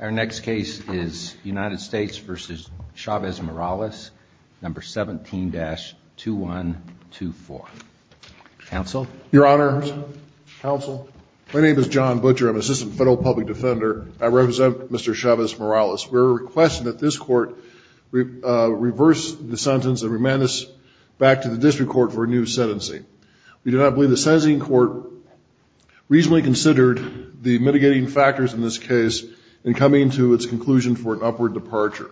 Our next case is United States v. Chavez-Morales, No. 17-2124. Counsel? Your Honor, Counsel, my name is John Butcher. I'm an Assistant Federal Public Defender. I represent Mr. Chavez-Morales. We're requesting that this Court reverse the sentence and remand us back to the District Court for a new sentencing. We do not believe the sentencing court reasonably considered the mitigating factors in this case in coming to its conclusion for an upward departure.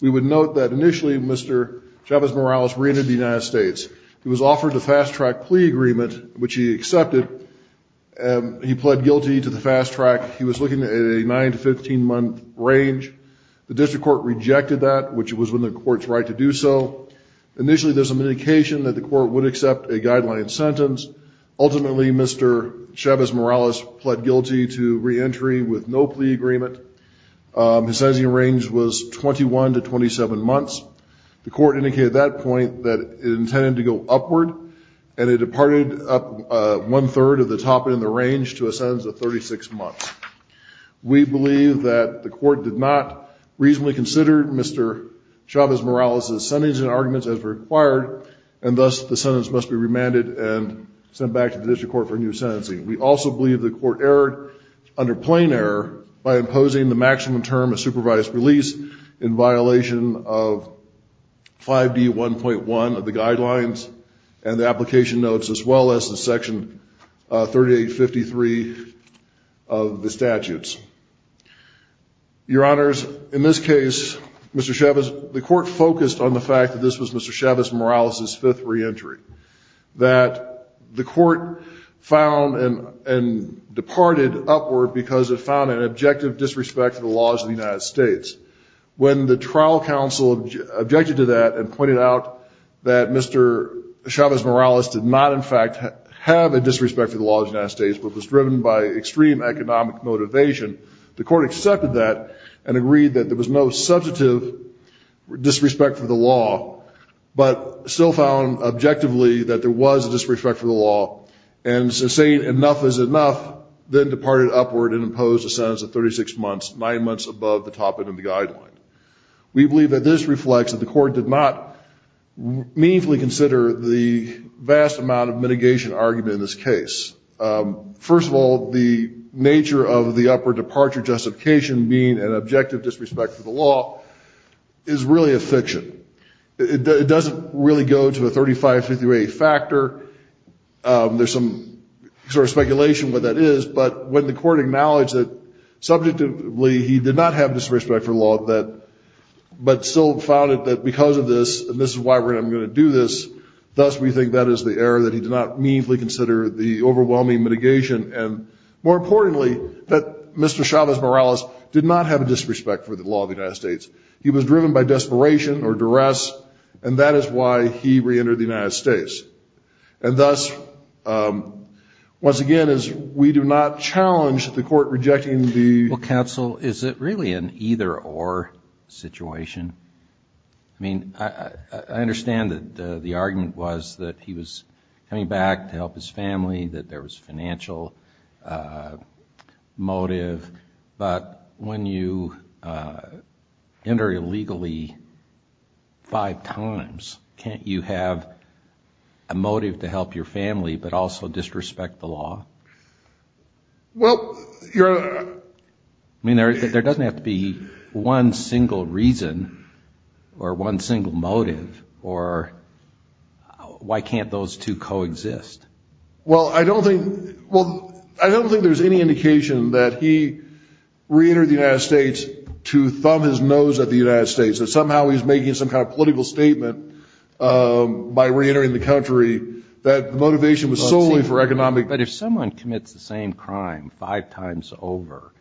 We would note that initially Mr. Chavez-Morales re-entered the United States. He was offered a fast-track plea agreement, which he accepted. He pled guilty to the fast track. He was looking at a 9-15 month range. The District Court rejected that, which was within the Court's right to do so. Initially, there was some indication that the Court would accept a guideline sentence. Ultimately, Mr. Chavez-Morales pled guilty to re-entry with no plea agreement. His sentencing range was 21 to 27 months. The Court indicated at that point that it intended to go upward, and it departed up one-third of the top end of the range to a sentence of 36 months. We believe that the Court did not reasonably consider Mr. Chavez-Morales' sentencing arguments as required, and thus the sentence must be remanded and sent back to the District Court for a new sentencing. We also believe the Court erred under plain error by imposing the maximum term of supervised release in violation of 5D1.1 of the guidelines and the application notes, as well as the Section 3853 of the statutes. Your Honors, in this case, Mr. Chavez, the Court focused on the fact that this was Mr. Chavez-Morales' fifth re-entry, that the Court found and departed upward because it found an objective disrespect to the laws of the United States. When the trial counsel objected to that and pointed out that Mr. Chavez-Morales did not, in fact, have a disrespect to the laws of the United States, but was driven by extreme economic motivation, the Court accepted that and agreed that there was no substantive disrespect for the law, but still found objectively that there was a disrespect for the law, and saying enough is enough, then departed upward and imposed a sentence of 36 months, nine months above the top end of the guideline. We believe that this reflects that the Court did not meaningfully consider the vast amount of mitigation argument in this case. First of all, the nature of the upward departure justification being an objective disrespect to the law is really a fiction. It doesn't really go to a 35-50 rate factor. There's some sort of speculation what that is. But when the Court acknowledged that subjectively he did not have disrespect for the law, but still found it that because of this, and this is why we're going to do this, thus we think that is the error, that he did not meaningfully consider the overwhelming mitigation, and more importantly, that Mr. Chavez-Morales did not have a disrespect for the law of the United States. He was driven by desperation or duress, and that is why he reentered the United States. And thus, once again, we do not challenge the Court rejecting the ---- Well, counsel, is it really an either-or situation? I mean, I understand that the argument was that he was coming back to help his family, that there was financial motive. But when you enter illegally five times, can't you have a motive to help your family but also disrespect the law? Well, you're ---- I mean, there doesn't have to be one single reason or one single motive, or why can't those two coexist? Well, I don't think there's any indication that he reentered the United States to thumb his nose at the United States, that somehow he's making some kind of political statement by reentering the country that the motivation was solely for economic ---- But if someone commits the same crime five times over,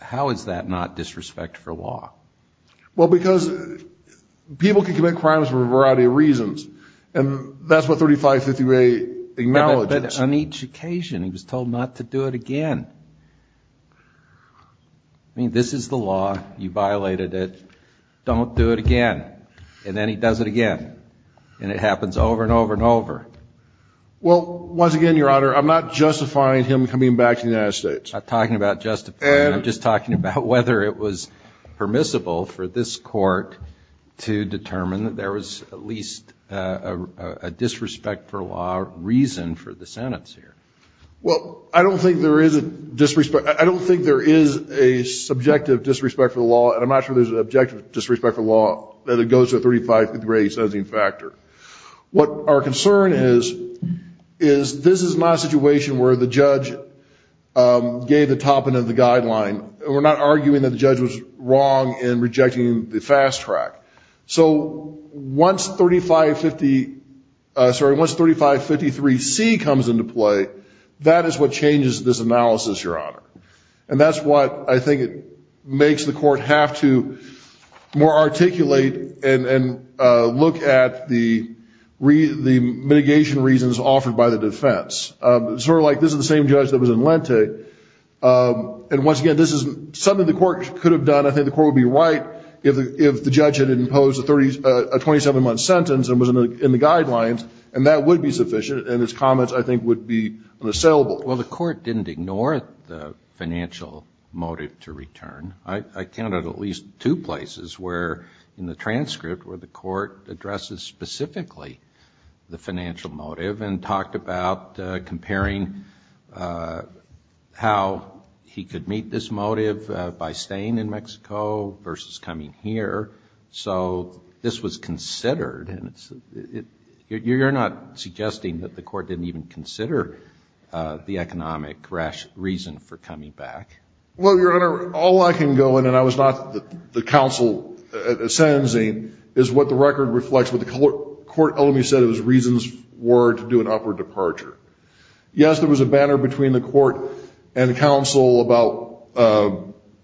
how is that not disrespect for law? Well, because people can commit crimes for a variety of reasons, and that's what 3558 acknowledges. But on each occasion, he was told not to do it again. I mean, this is the law, you violated it, don't do it again. And then he does it again, and it happens over and over and over. Well, once again, Your Honor, I'm not justifying him coming back to the United States. I'm not talking about justifying him. I'm just talking about whether it was permissible for this Court to determine that there was at least a disrespect for law reason for the Senate's here. Well, I don't think there is a disrespect. I don't think there is a subjective disrespect for the law, and I'm not sure there's an objective disrespect for the law, that it goes to a 35-degree sentencing factor. What our concern is, is this is not a situation where the judge gave the top end of the guideline, and we're not arguing that the judge was wrong in rejecting the fast track. So once 3553C comes into play, that is what changes this analysis, Your Honor. And that's what I think makes the Court have to more articulate and look at the mitigation reasons offered by the defense. Sort of like this is the same judge that was in Lente, and once again, this is something the Court could have done. I think the Court would be right if the judge had imposed a 27-month sentence and was in the guidelines, and that would be sufficient, and his comments, I think, would be unassailable. Well, the Court didn't ignore the financial motive to return. I counted at least two places where in the transcript where the Court addresses specifically the financial motive and talked about comparing how he could meet this motive by staying in Mexico versus coming here. So this was considered, and you're not suggesting that the Court didn't even consider the economic reason for coming back. Well, Your Honor, all I can go in, and I was not the counsel sentencing, is what the record reflects what the Court ultimately said its reasons were to do an upward departure. Yes, there was a banner between the Court and the counsel about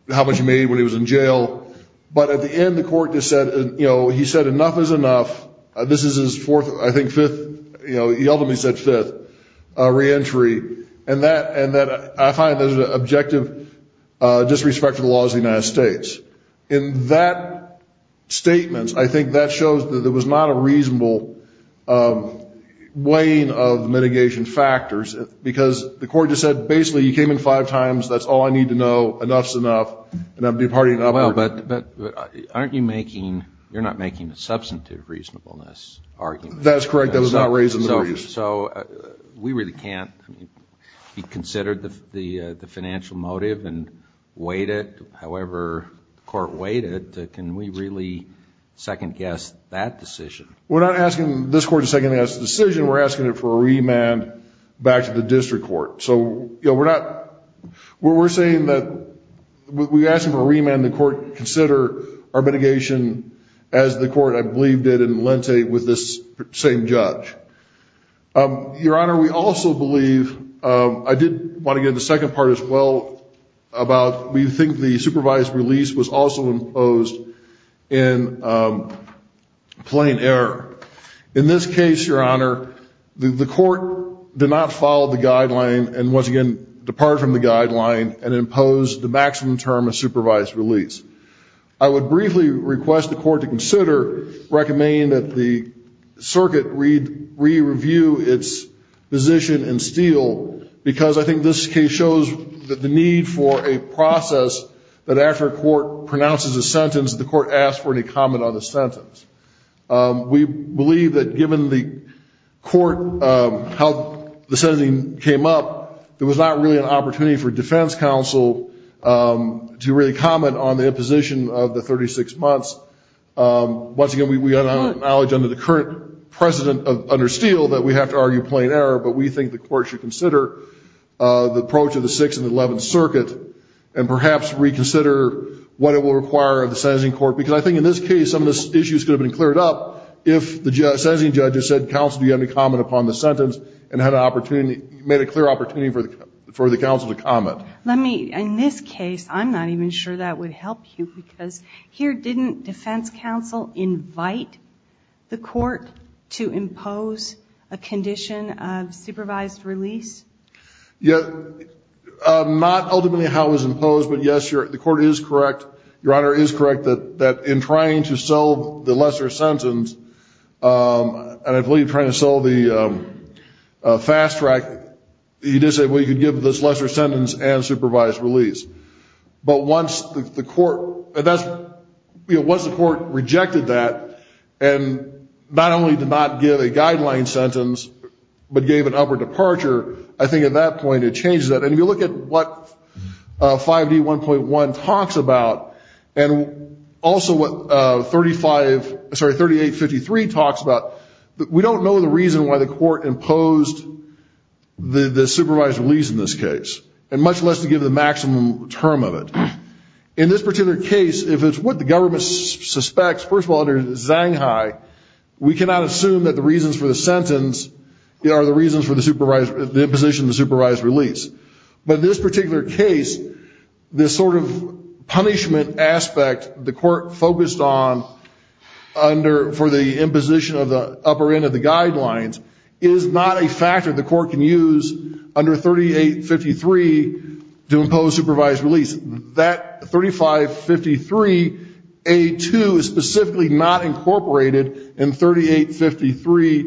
how much he made when he was in jail, but at the end the Court just said, you know, he said enough is enough. This is his fourth, I think fifth, you know, he ultimately said fifth reentry, and that I find there's an objective disrespect to the laws of the United States. In that statement, I think that shows that there was not a reasonable weighing of mitigation factors, because the Court just said basically he came in five times, that's all I need to know, enough is enough, and I'm departing upward. Well, but aren't you making, you're not making a substantive reasonableness argument. That's correct, that was not raised in the briefs. So we really can't, I mean, he considered the financial motive and weighed it, however the Court weighed it. Can we really second-guess that decision? We're not asking this Court to second-guess the decision, we're asking it for a remand back to the district court. So, you know, we're not, we're saying that, we're asking for a remand, the Court consider our mitigation as the Court, I believe, did in Malente with this same judge. Your Honor, we also believe, I did want to get into the second part as well, about we think the supervised release was also imposed in plain error. In this case, Your Honor, the Court did not follow the guideline and, once again, depart from the guideline and impose the maximum term of supervised release. I would briefly request the Court to consider, recommend that the circuit re-review its position in Steele, because I think this case shows the need for a process that after a court pronounces a sentence, the court asks for any comment on the sentence. We believe that given the court, how the sentencing came up, there was not really an opportunity for defense counsel to really comment on the imposition of the 36 months. Once again, we acknowledge under the current precedent under Steele that we have to argue plain error, but we think the Court should consider the approach of the Sixth and Eleventh Circuit and perhaps reconsider what it will require of the sentencing court, because I think in this case some of the issues could have been cleared up if the sentencing judge had said, counsel, do you have any comment upon the sentence and had an opportunity, made a clear opportunity for the counsel to comment. Let me, in this case, I'm not even sure that would help you, because here didn't defense counsel invite the court to impose a condition of supervised release? Not ultimately how it was imposed, but, yes, the Court is correct, Your Honor, is correct that in trying to sell the lesser sentence, and I believe trying to sell the fast track, you did say, well, you could give this lesser sentence and supervised release. But once the court rejected that, and not only did it not give a guideline sentence, but gave an upper departure, I think at that point it changed that. And if you look at what 5D1.1 talks about, and also what 3853 talks about, we don't know the reason why the court imposed the supervised release in this case, and much less to give the maximum term of it. In this particular case, if it's what the government suspects, first of all, under Zanghai, we cannot assume that the reasons for the sentence are the reasons for the imposition of the supervised release. But this particular case, this sort of punishment aspect the court focused on for the imposition of the upper end of the guidelines, is not a factor the court can use under 3853 to impose supervised release. That 3553A2 is specifically not incorporated in 3853,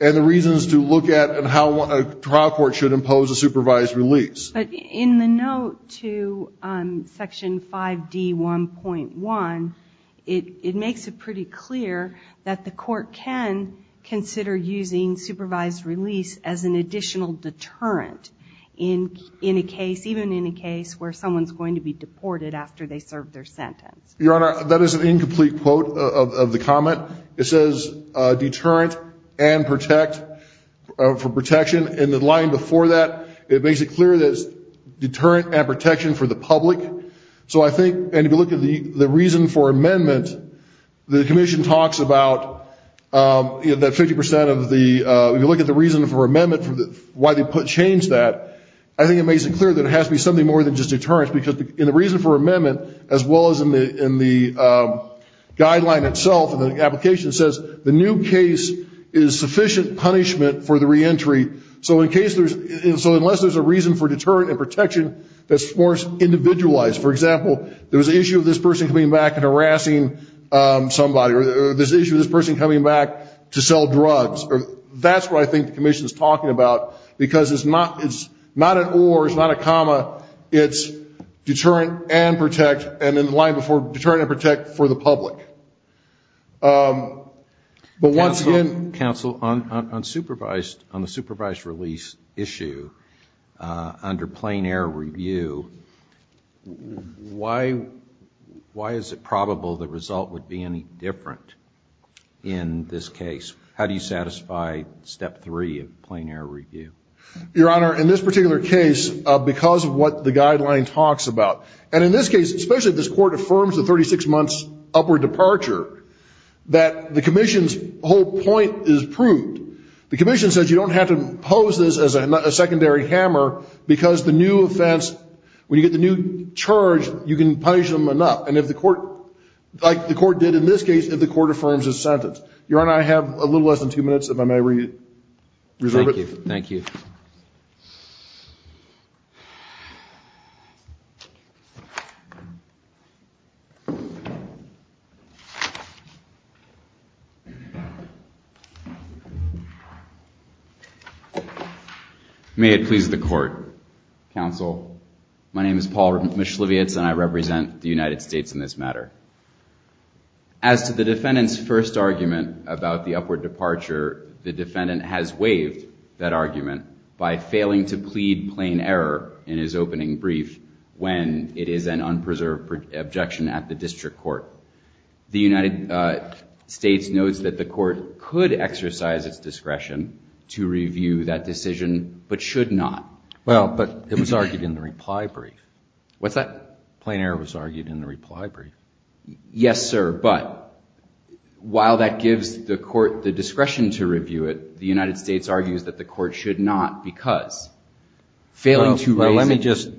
and the reasons to look at and how a trial court should impose a supervised release. But in the note to Section 5D1.1, it makes it pretty clear that the court can consider using supervised release as an additional deterrent. In a case, even in a case where someone's going to be deported after they serve their sentence. Your Honor, that is an incomplete quote of the comment. It says deterrent and protect, for protection. In the line before that, it makes it clear that it's deterrent and protection for the public. So I think, and if you look at the reason for amendment, the commission talks about that 50% of the, if you look at the reason for amendment for why they changed that, I think it makes it clear that it has to be something more than just deterrent. Because in the reason for amendment, as well as in the guideline itself, the application says the new case is sufficient punishment for the reentry. So unless there's a reason for deterrent and protection, that's more individualized. So, for example, there was an issue of this person coming back and harassing somebody, or there's an issue of this person coming back to sell drugs. That's what I think the commission is talking about, because it's not an or, it's not a comma. It's deterrent and protect, and in the line before, deterrent and protect for the public. But once again. Counsel, on the supervised release issue, under plain error review, why is it probable the result would be any different in this case? How do you satisfy step three of plain error review? Your Honor, in this particular case, because of what the guideline talks about, and in this case, especially if this court affirms the 36 months upward departure, that the commission's whole point is proved, the commission says you don't have to pose this as a secondary hammer, because the new offense, when you get the new charge, you can punish them enough. And if the court, like the court did in this case, if the court affirms this sentence. Your Honor, I have a little less than two minutes, if I may reserve it. Thank you. May it please the court. Counsel, my name is Paul Mischlevitz, and I represent the United States in this matter. As to the defendant's first argument about the upward departure, the defendant has waived that argument by failing to plead plain error in his opening brief when it is an unpreserved objection at the district court. The United States knows that the court could exercise its discretion to review that decision, but should not. Well, but it was argued in the reply brief. What's that? Plain error was argued in the reply brief. Yes, sir, but while that gives the court the discretion to review it, the United States argues that the court should not because failing to raise it. Well, let me just,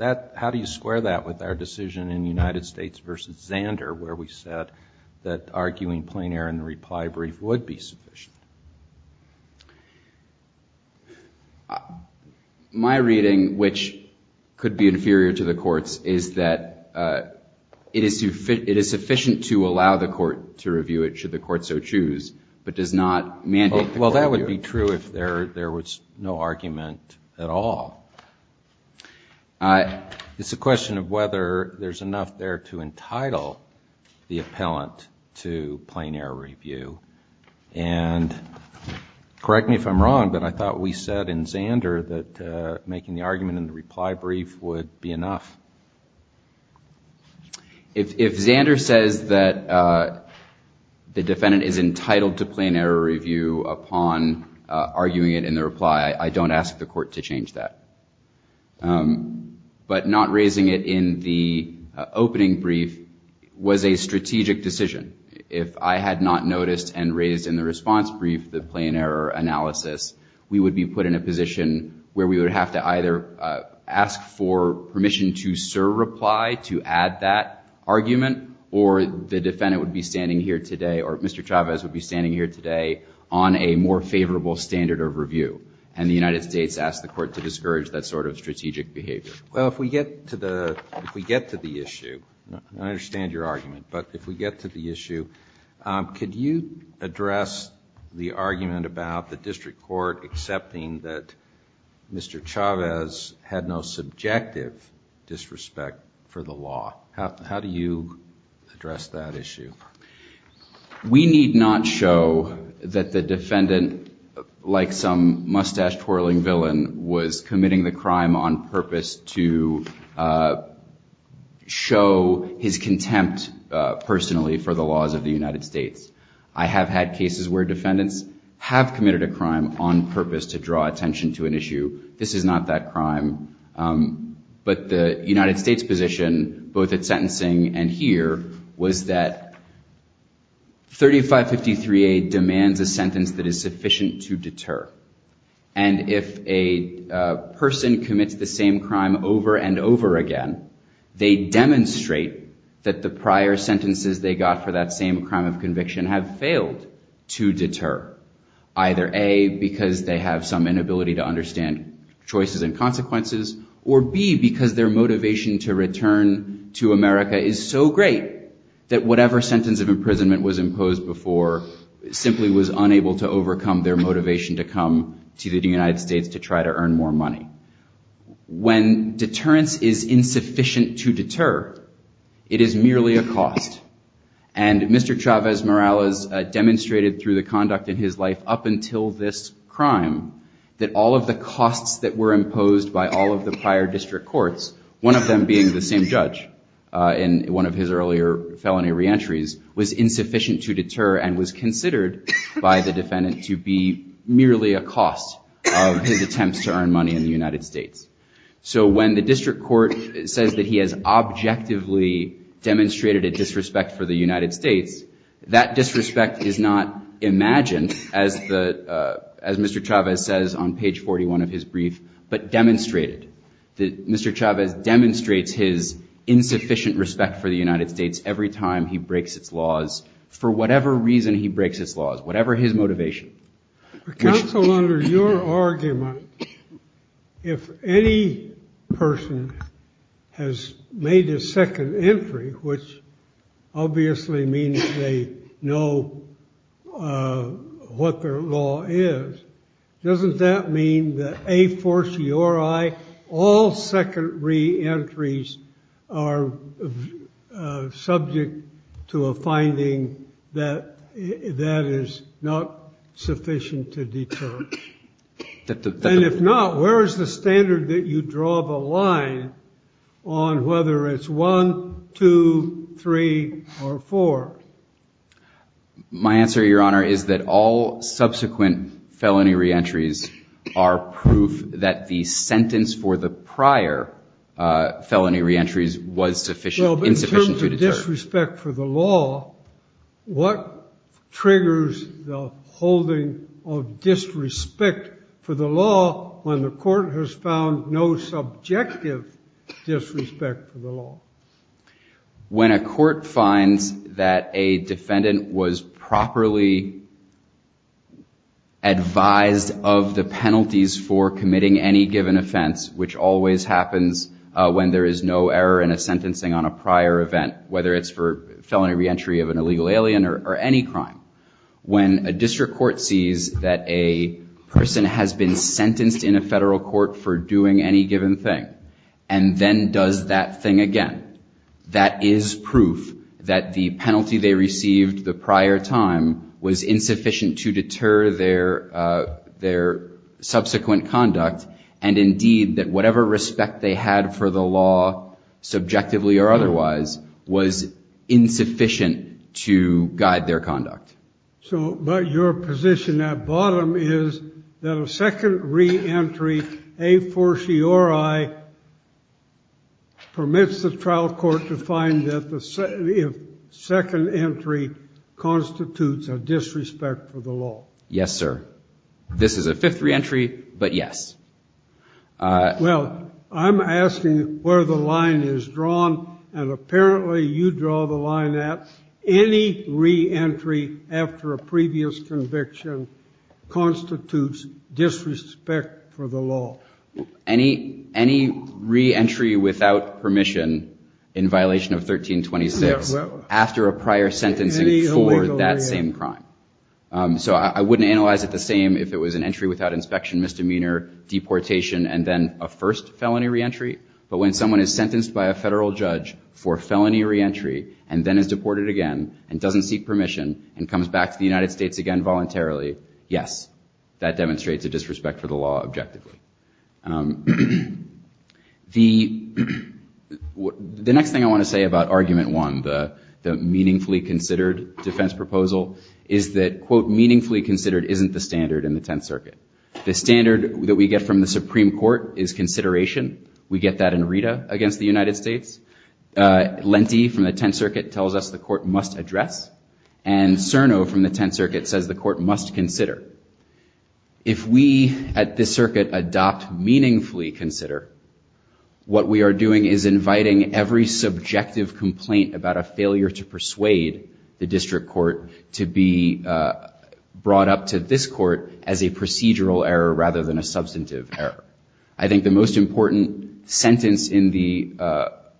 how do you square that with our decision in United States v. Zander where we said that arguing plain error in the reply brief would be sufficient? My reading, which could be inferior to the court's, is that it is sufficient to allow the court to review it should the court so choose, but does not mandate the court to review it. Well, that would be true if there was no argument at all. It's a question of whether there's enough there to entitle the appellant to plain error review, and correct me if I'm wrong, but I thought we said in Zander that making the argument in the reply brief would be enough. If Zander says that the defendant is entitled to plain error review upon arguing it in the reply, I don't ask the court to change that. But not raising it in the opening brief was a strategic decision. If I had not noticed and raised in the response brief the plain error analysis, we would be put in a position where we would have to either ask for permission to serve reply to add that argument, or the defendant would be standing here today, or Mr. Chavez would be standing here today on a more favorable standard of review, and the United States asked the court to discourage that sort of strategic behavior. Well, if we get to the issue, and I understand your argument, but if we get to the issue, could you address the argument about the district court accepting that Mr. Chavez had no subjective disrespect for the law? How do you address that issue? We need not show that the defendant, like some mustache-twirling villain, was committing the crime on purpose to show his contempt personally for the laws of the United States. I have had cases where defendants have committed a crime on purpose to draw attention to an issue. This is not that crime. But the United States position, both at sentencing and here, was that 3553A demands a sentence that is sufficient to deter. And if a person commits the same crime over and over again, they demonstrate that the prior sentences they got for that same crime of conviction have failed to deter. Either A, because they have some inability to understand choices and consequences, or B, because their motivation to return to America is so great that whatever sentence of imprisonment was imposed before simply was unable to overcome their motivation to come to the United States to try to earn more money. When deterrence is insufficient to deter, it is merely a cost. And Mr. Chavez Morales demonstrated through the conduct in his life up until this crime that all of the costs that were imposed by all of the prior district courts, one of them being the same judge in one of his earlier felony reentries, was insufficient to deter and was considered by the defendant to be merely a cost of his attempts to earn money in the United States. So when the district court says that he has objectively demonstrated a disrespect for the United States, that disrespect is not imagined, as Mr. Chavez says on page 41 of his brief, but demonstrated. Mr. Chavez demonstrates his insufficient respect for the United States every time he breaks its laws for whatever reason he breaks its laws, whatever his motivation. Counsel, under your argument, if any person has made a second entry, which obviously means they know what their law is, doesn't that mean that a forciori, all second reentries are subject to a finding that is not sufficient to deter? And if not, where is the standard that you draw the line on whether it's one, two, three, or four? My answer, Your Honor, is that all subsequent felony reentries are proof that the sentence for the prior felony reentries was insufficient to deter. Well, in terms of disrespect for the law, what triggers the holding of disrespect for the law when the court has found no subjective disrespect for the law? When a court finds that a defendant was properly advised of the penalties for committing any given offense, which always happens when there is no error in a sentencing on a prior event, whether it's for felony reentry of an illegal alien or any crime. When a district court sees that a person has been sentenced in a federal court for doing any given thing and then does that thing again, that is proof that the penalty they received the prior time was insufficient to deter their subsequent conduct and indeed that whatever respect they had for the law, subjectively or otherwise, was insufficient to guide their conduct. So, but your position at bottom is that a second reentry, a fortiori, permits the trial court to find that the second entry constitutes a disrespect for the law. Yes, sir. This is a fifth reentry, but yes. Well, I'm asking where the line is drawn, and apparently you draw the line at any reentry after a previous conviction constitutes disrespect for the law. Any reentry without permission in violation of 1326 after a prior sentencing for that same crime. So I wouldn't analyze it the same if it was an entry without inspection, misdemeanor, deportation, and then a first felony reentry. But when someone is sentenced by a federal judge for felony reentry and then is deported again and doesn't seek permission and comes back to the United States again voluntarily, yes, that demonstrates a disrespect for the law objectively. The next thing I want to say about argument one, the meaningfully considered defense proposal, is that, quote, meaningfully considered isn't the standard in the Tenth Circuit. The standard that we get from the Supreme Court is consideration. We get that in RETA against the United States. Lente from the Tenth Circuit tells us the court must address, and CERNO from the Tenth Circuit says the court must consider. If we at this circuit adopt meaningfully consider, what we are doing is inviting every subjective complaint about a failure to persuade the district court to be brought up to this court as a procedural error rather than a substantive error. I think the most important sentence in the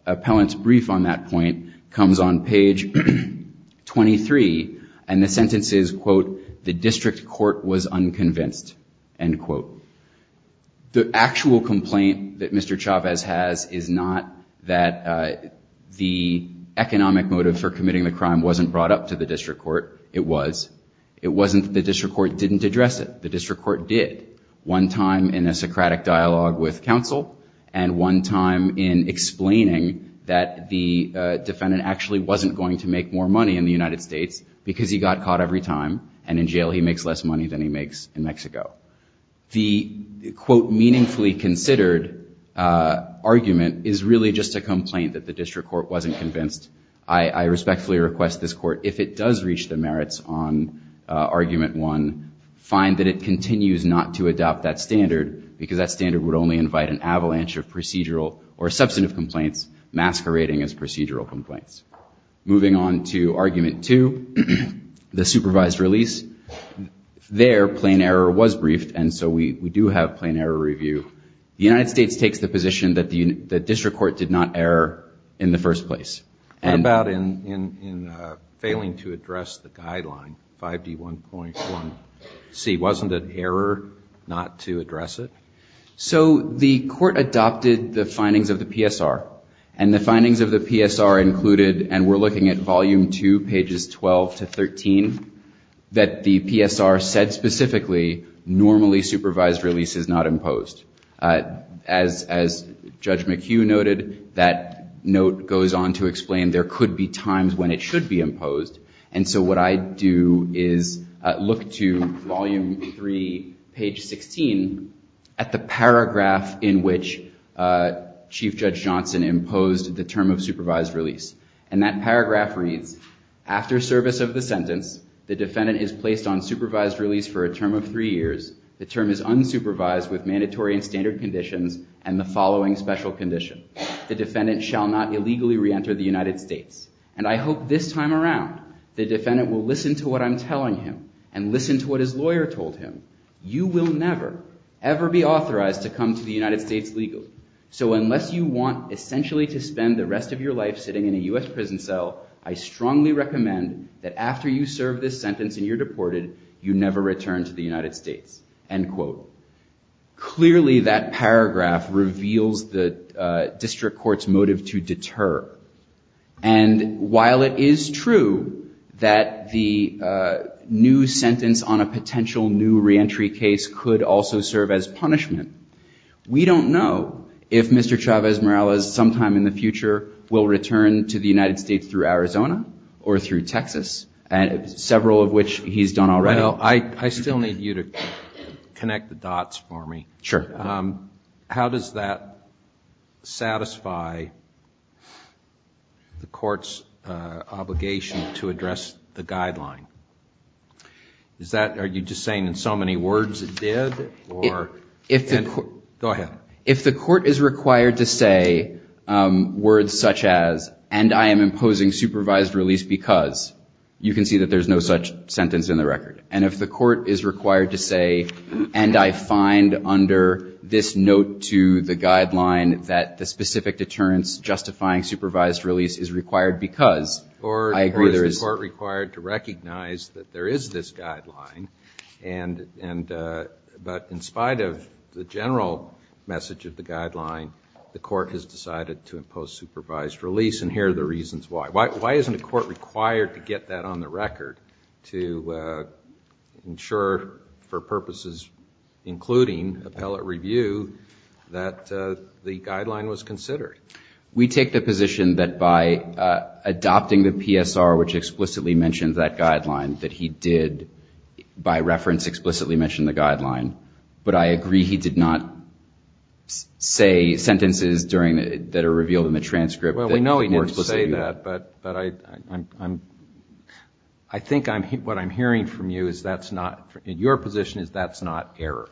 appellant's brief on that point comes on page 23, and the sentence is, quote, the district court was unconvinced, end quote. The actual complaint that Mr. Chavez has is not that the economic motive for committing the crime wasn't brought up to the district court. It was. It wasn't that the district court didn't address it. The district court did, one time in a Socratic dialogue with counsel and one time in explaining that the defendant actually wasn't going to make more money in the United States because he got caught every time, and in jail he makes less money than he makes in Mexico. The, quote, meaningfully considered argument is really just a complaint that the district court wasn't convinced. I respectfully request this court, if it does reach the merits on argument one, find that it continues not to adopt that standard because that standard would only invite an avalanche of procedural or substantive complaints masquerading as procedural complaints. Moving on to argument two, the supervised release. There, plain error was briefed, and so we do have plain error review. The United States takes the position that the district court did not err in the first place. What about in failing to address the guideline, 5D1.1C? Wasn't it error not to address it? So the court adopted the findings of the PSR, and the findings of the PSR included, and we're looking at volume two, pages 12 to 13, that the PSR said specifically normally supervised release is not imposed. As Judge McHugh noted, that note goes on to explain there could be times when it should be imposed, and so what I do is look to volume three, page 16, at the paragraph in which Chief Judge Johnson imposed the term of supervised release, and that paragraph reads, after service of the sentence, the defendant is placed on supervised release for a term of three years, the term is unsupervised with mandatory and standard conditions, and the following special condition. The defendant shall not illegally reenter the United States, and I hope this time around the defendant will listen to what I'm telling him, and listen to what his lawyer told him. You will never, ever be authorized to come to the United States legally. So unless you want essentially to spend the rest of your life sitting in a U.S. prison cell, I strongly recommend that after you serve this sentence and you're deported, you never return to the United States, end quote. Clearly that paragraph reveals the district court's motive to deter, and while it is true that the new sentence on a potential new reentry case could also serve as punishment, we don't know if Mr. Chavez-Morales sometime in the future will return to the United States through Arizona or through Texas, several of which he's done already. I still need you to connect the dots for me. Sure. How does that satisfy the court's obligation to address the guideline? Are you just saying in so many words it did? Go ahead. If the court is required to say words such as, and I am imposing supervised release because, you can see that there's no such sentence in the record. And if the court is required to say, and I find under this note to the guideline that the specific deterrence justifying supervised release is required because, I agree there is. Is the court required to recognize that there is this guideline, but in spite of the general message of the guideline, the court has decided to impose supervised release? And here are the reasons why. Why isn't a court required to get that on the record to ensure for purposes including appellate review that the guideline was considered? We take the position that by adopting the PSR, which explicitly mentions that guideline, that he did by reference explicitly mention the guideline, but I agree he did not say sentences that are revealed in the transcript. Well, we know he didn't say that, but I think what I'm hearing from you is that's not, in your position, is that's not error.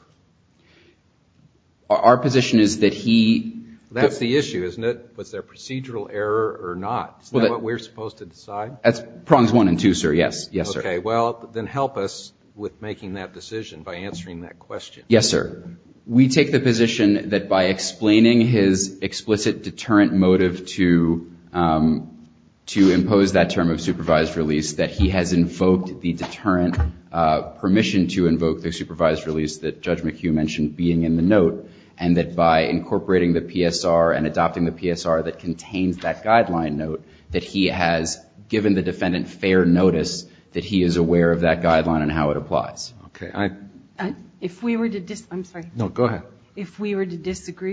Our position is that he... That's the issue, isn't it? Was there procedural error or not? Is that what we're supposed to decide? That's prongs one and two, sir. Yes, yes, sir. Okay, well, then help us with making that decision by answering that question. Yes, sir. We take the position that by explaining his explicit deterrent motive to impose that term of supervised release, that he has invoked the deterrent permission to invoke the supervised release that Judge Fisher had. Judge McHugh mentioned being in the note, and that by incorporating the PSR and adopting the PSR that contains that guideline note, that he has given the defendant fair notice that he is aware of that guideline and how it applies. Okay, I... If we were to disagree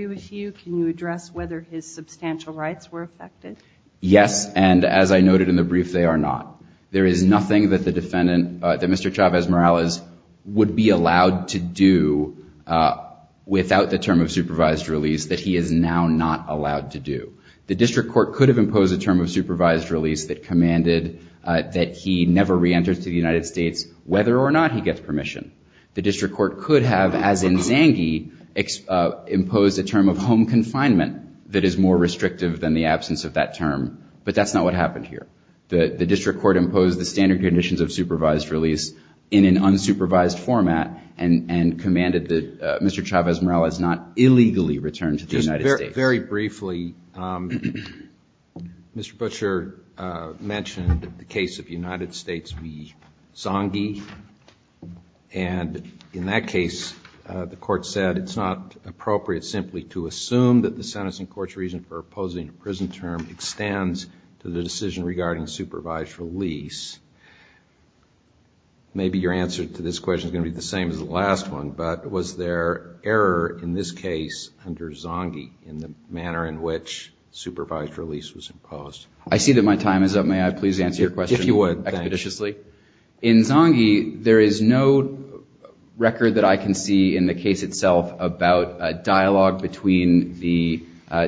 with you, can you address whether his substantial rights were affected? Yes, and as I noted in the brief, they are not. There is nothing that the defendant, that Mr. Chavez Morales, would be allowed to do without the term of supervised release that he is now not allowed to do. The district court could have imposed a term of supervised release that commanded that he never reentered to the United States, whether or not he gets permission. The district court could have, as in Zange, imposed a term of home confinement that is more restrictive than the absence of that term, but that's not what happened here. The district court imposed the standard conditions of supervised release in an unsupervised format and commanded that Mr. Chavez Morales not illegally return to the United States. Very briefly, Mr. Butcher mentioned the case of the United States v. Zange, and in that case, the court said it's not appropriate simply to assume that the sentencing court's reason for opposing a prison term extends to the decision regarding the absence of the term of home confinement. Now, regarding supervised release, maybe your answer to this question is going to be the same as the last one, but was there error in this case under Zange in the manner in which supervised release was imposed? I see that my time is up. May I please answer your question expeditiously? If you would, thank you. In Zange, there is no record that I can see in the case itself about a dialogue between the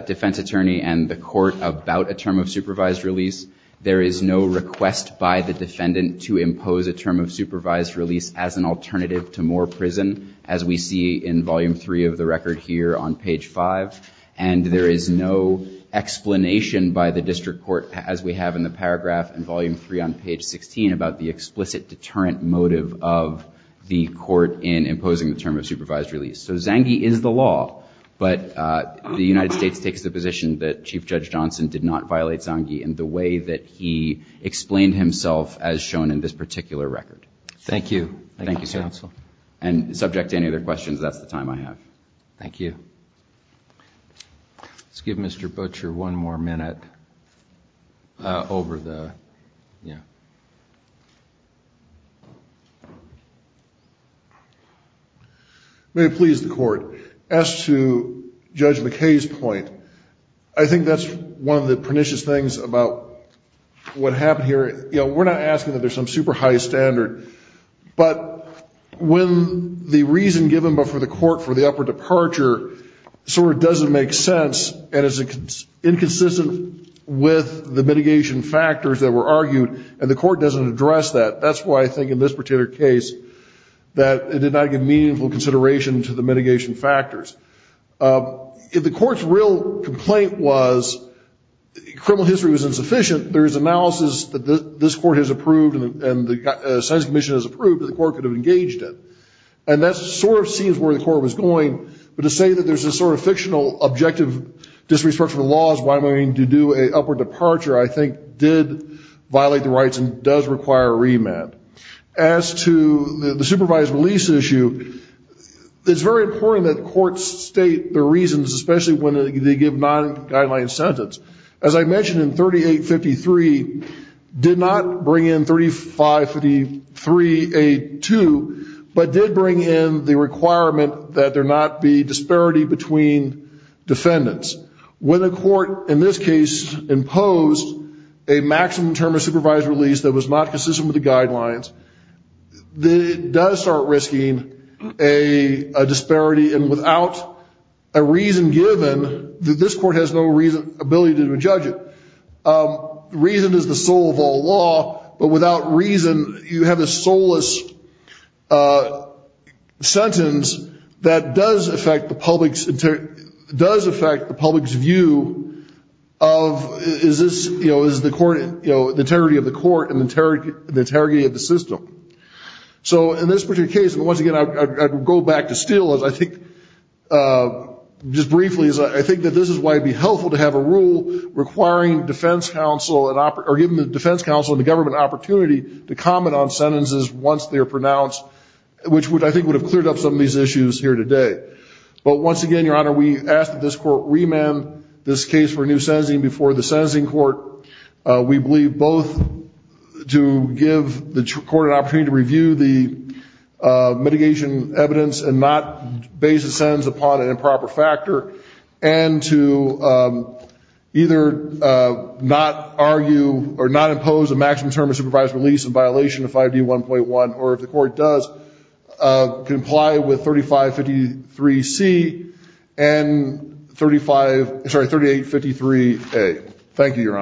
defense attorney and the court about a term of supervised release. There is no request by the defendant to impose a term of supervised release as an alternative to more prison, as we see in Volume 3 of the record here on page 5, and there is no explanation by the district court, as we have in the paragraph in Volume 3 on page 16, about a term of supervised release. There is no explanation about the explicit deterrent motive of the court in imposing the term of supervised release. So Zange is the law, but the United States takes the position that Chief Judge Johnson did not violate Zange in the way that he explained himself as shown in this particular record. Thank you. Thank you, counsel. And subject to any other questions, that's the time I have. Thank you. May it please the Court, as to Judge McKay's point, I think that's one of the pernicious things about what happened here. You know, we're not asking that there's some super high standard, but when the reason given before the court for the upper departure sort of doesn't make sense, and is inconsistent with the mitigation factors that were argued, and the court doesn't address that. That's why I think in this particular case that it did not give meaningful consideration to the mitigation factors. If the court's real complaint was criminal history was insufficient, there is analysis that does not support that. And I think that's one of the reasons that this court has approved and the science commission has approved that the court could have engaged it. And that sort of seems where the court was going. But to say that there's this sort of fictional objective disrespect for the laws, why am I going to do an upper departure, I think did violate the rights and does require a remand. As to the supervised release issue, it's very important that courts state the reasons, especially when they give non-guideline sentence. As I mentioned in 3853, did not bring in 3553A2, but did bring in the requirement that there not be disparity between defendants. When the court in this case imposed a maximum term of supervised release that was not consistent with the guidelines, it does start risking a disparity. And without a reason given, this court has no reason, ability to judge it. Reason is the soul of all law, but without reason, you have a soulless sentence that does affect the public's view of is this, you know, is the court, you know, the integrity of the court and the integrity of the system. So in this particular case, and once again, I'd go back to Steele as I think, just briefly as I think that this is why it'd be helpful to have a rule requiring defense counsel, or giving the defense counsel and the government an opportunity to comment on sentences once they're pronounced, which I think would have cleared up some of these issues here today. But once again, Your Honor, we ask that this court remand this case for a new sentencing before the sentencing court. We believe both to give the court an opportunity to review the mitigation evidence and not base a sentence upon an improper factor, and to either not argue or not impose a maximum term of supervised release in violation of 5D1.1, or if the court does, comply with 3553C and 3853A. Thank you, Your Honor.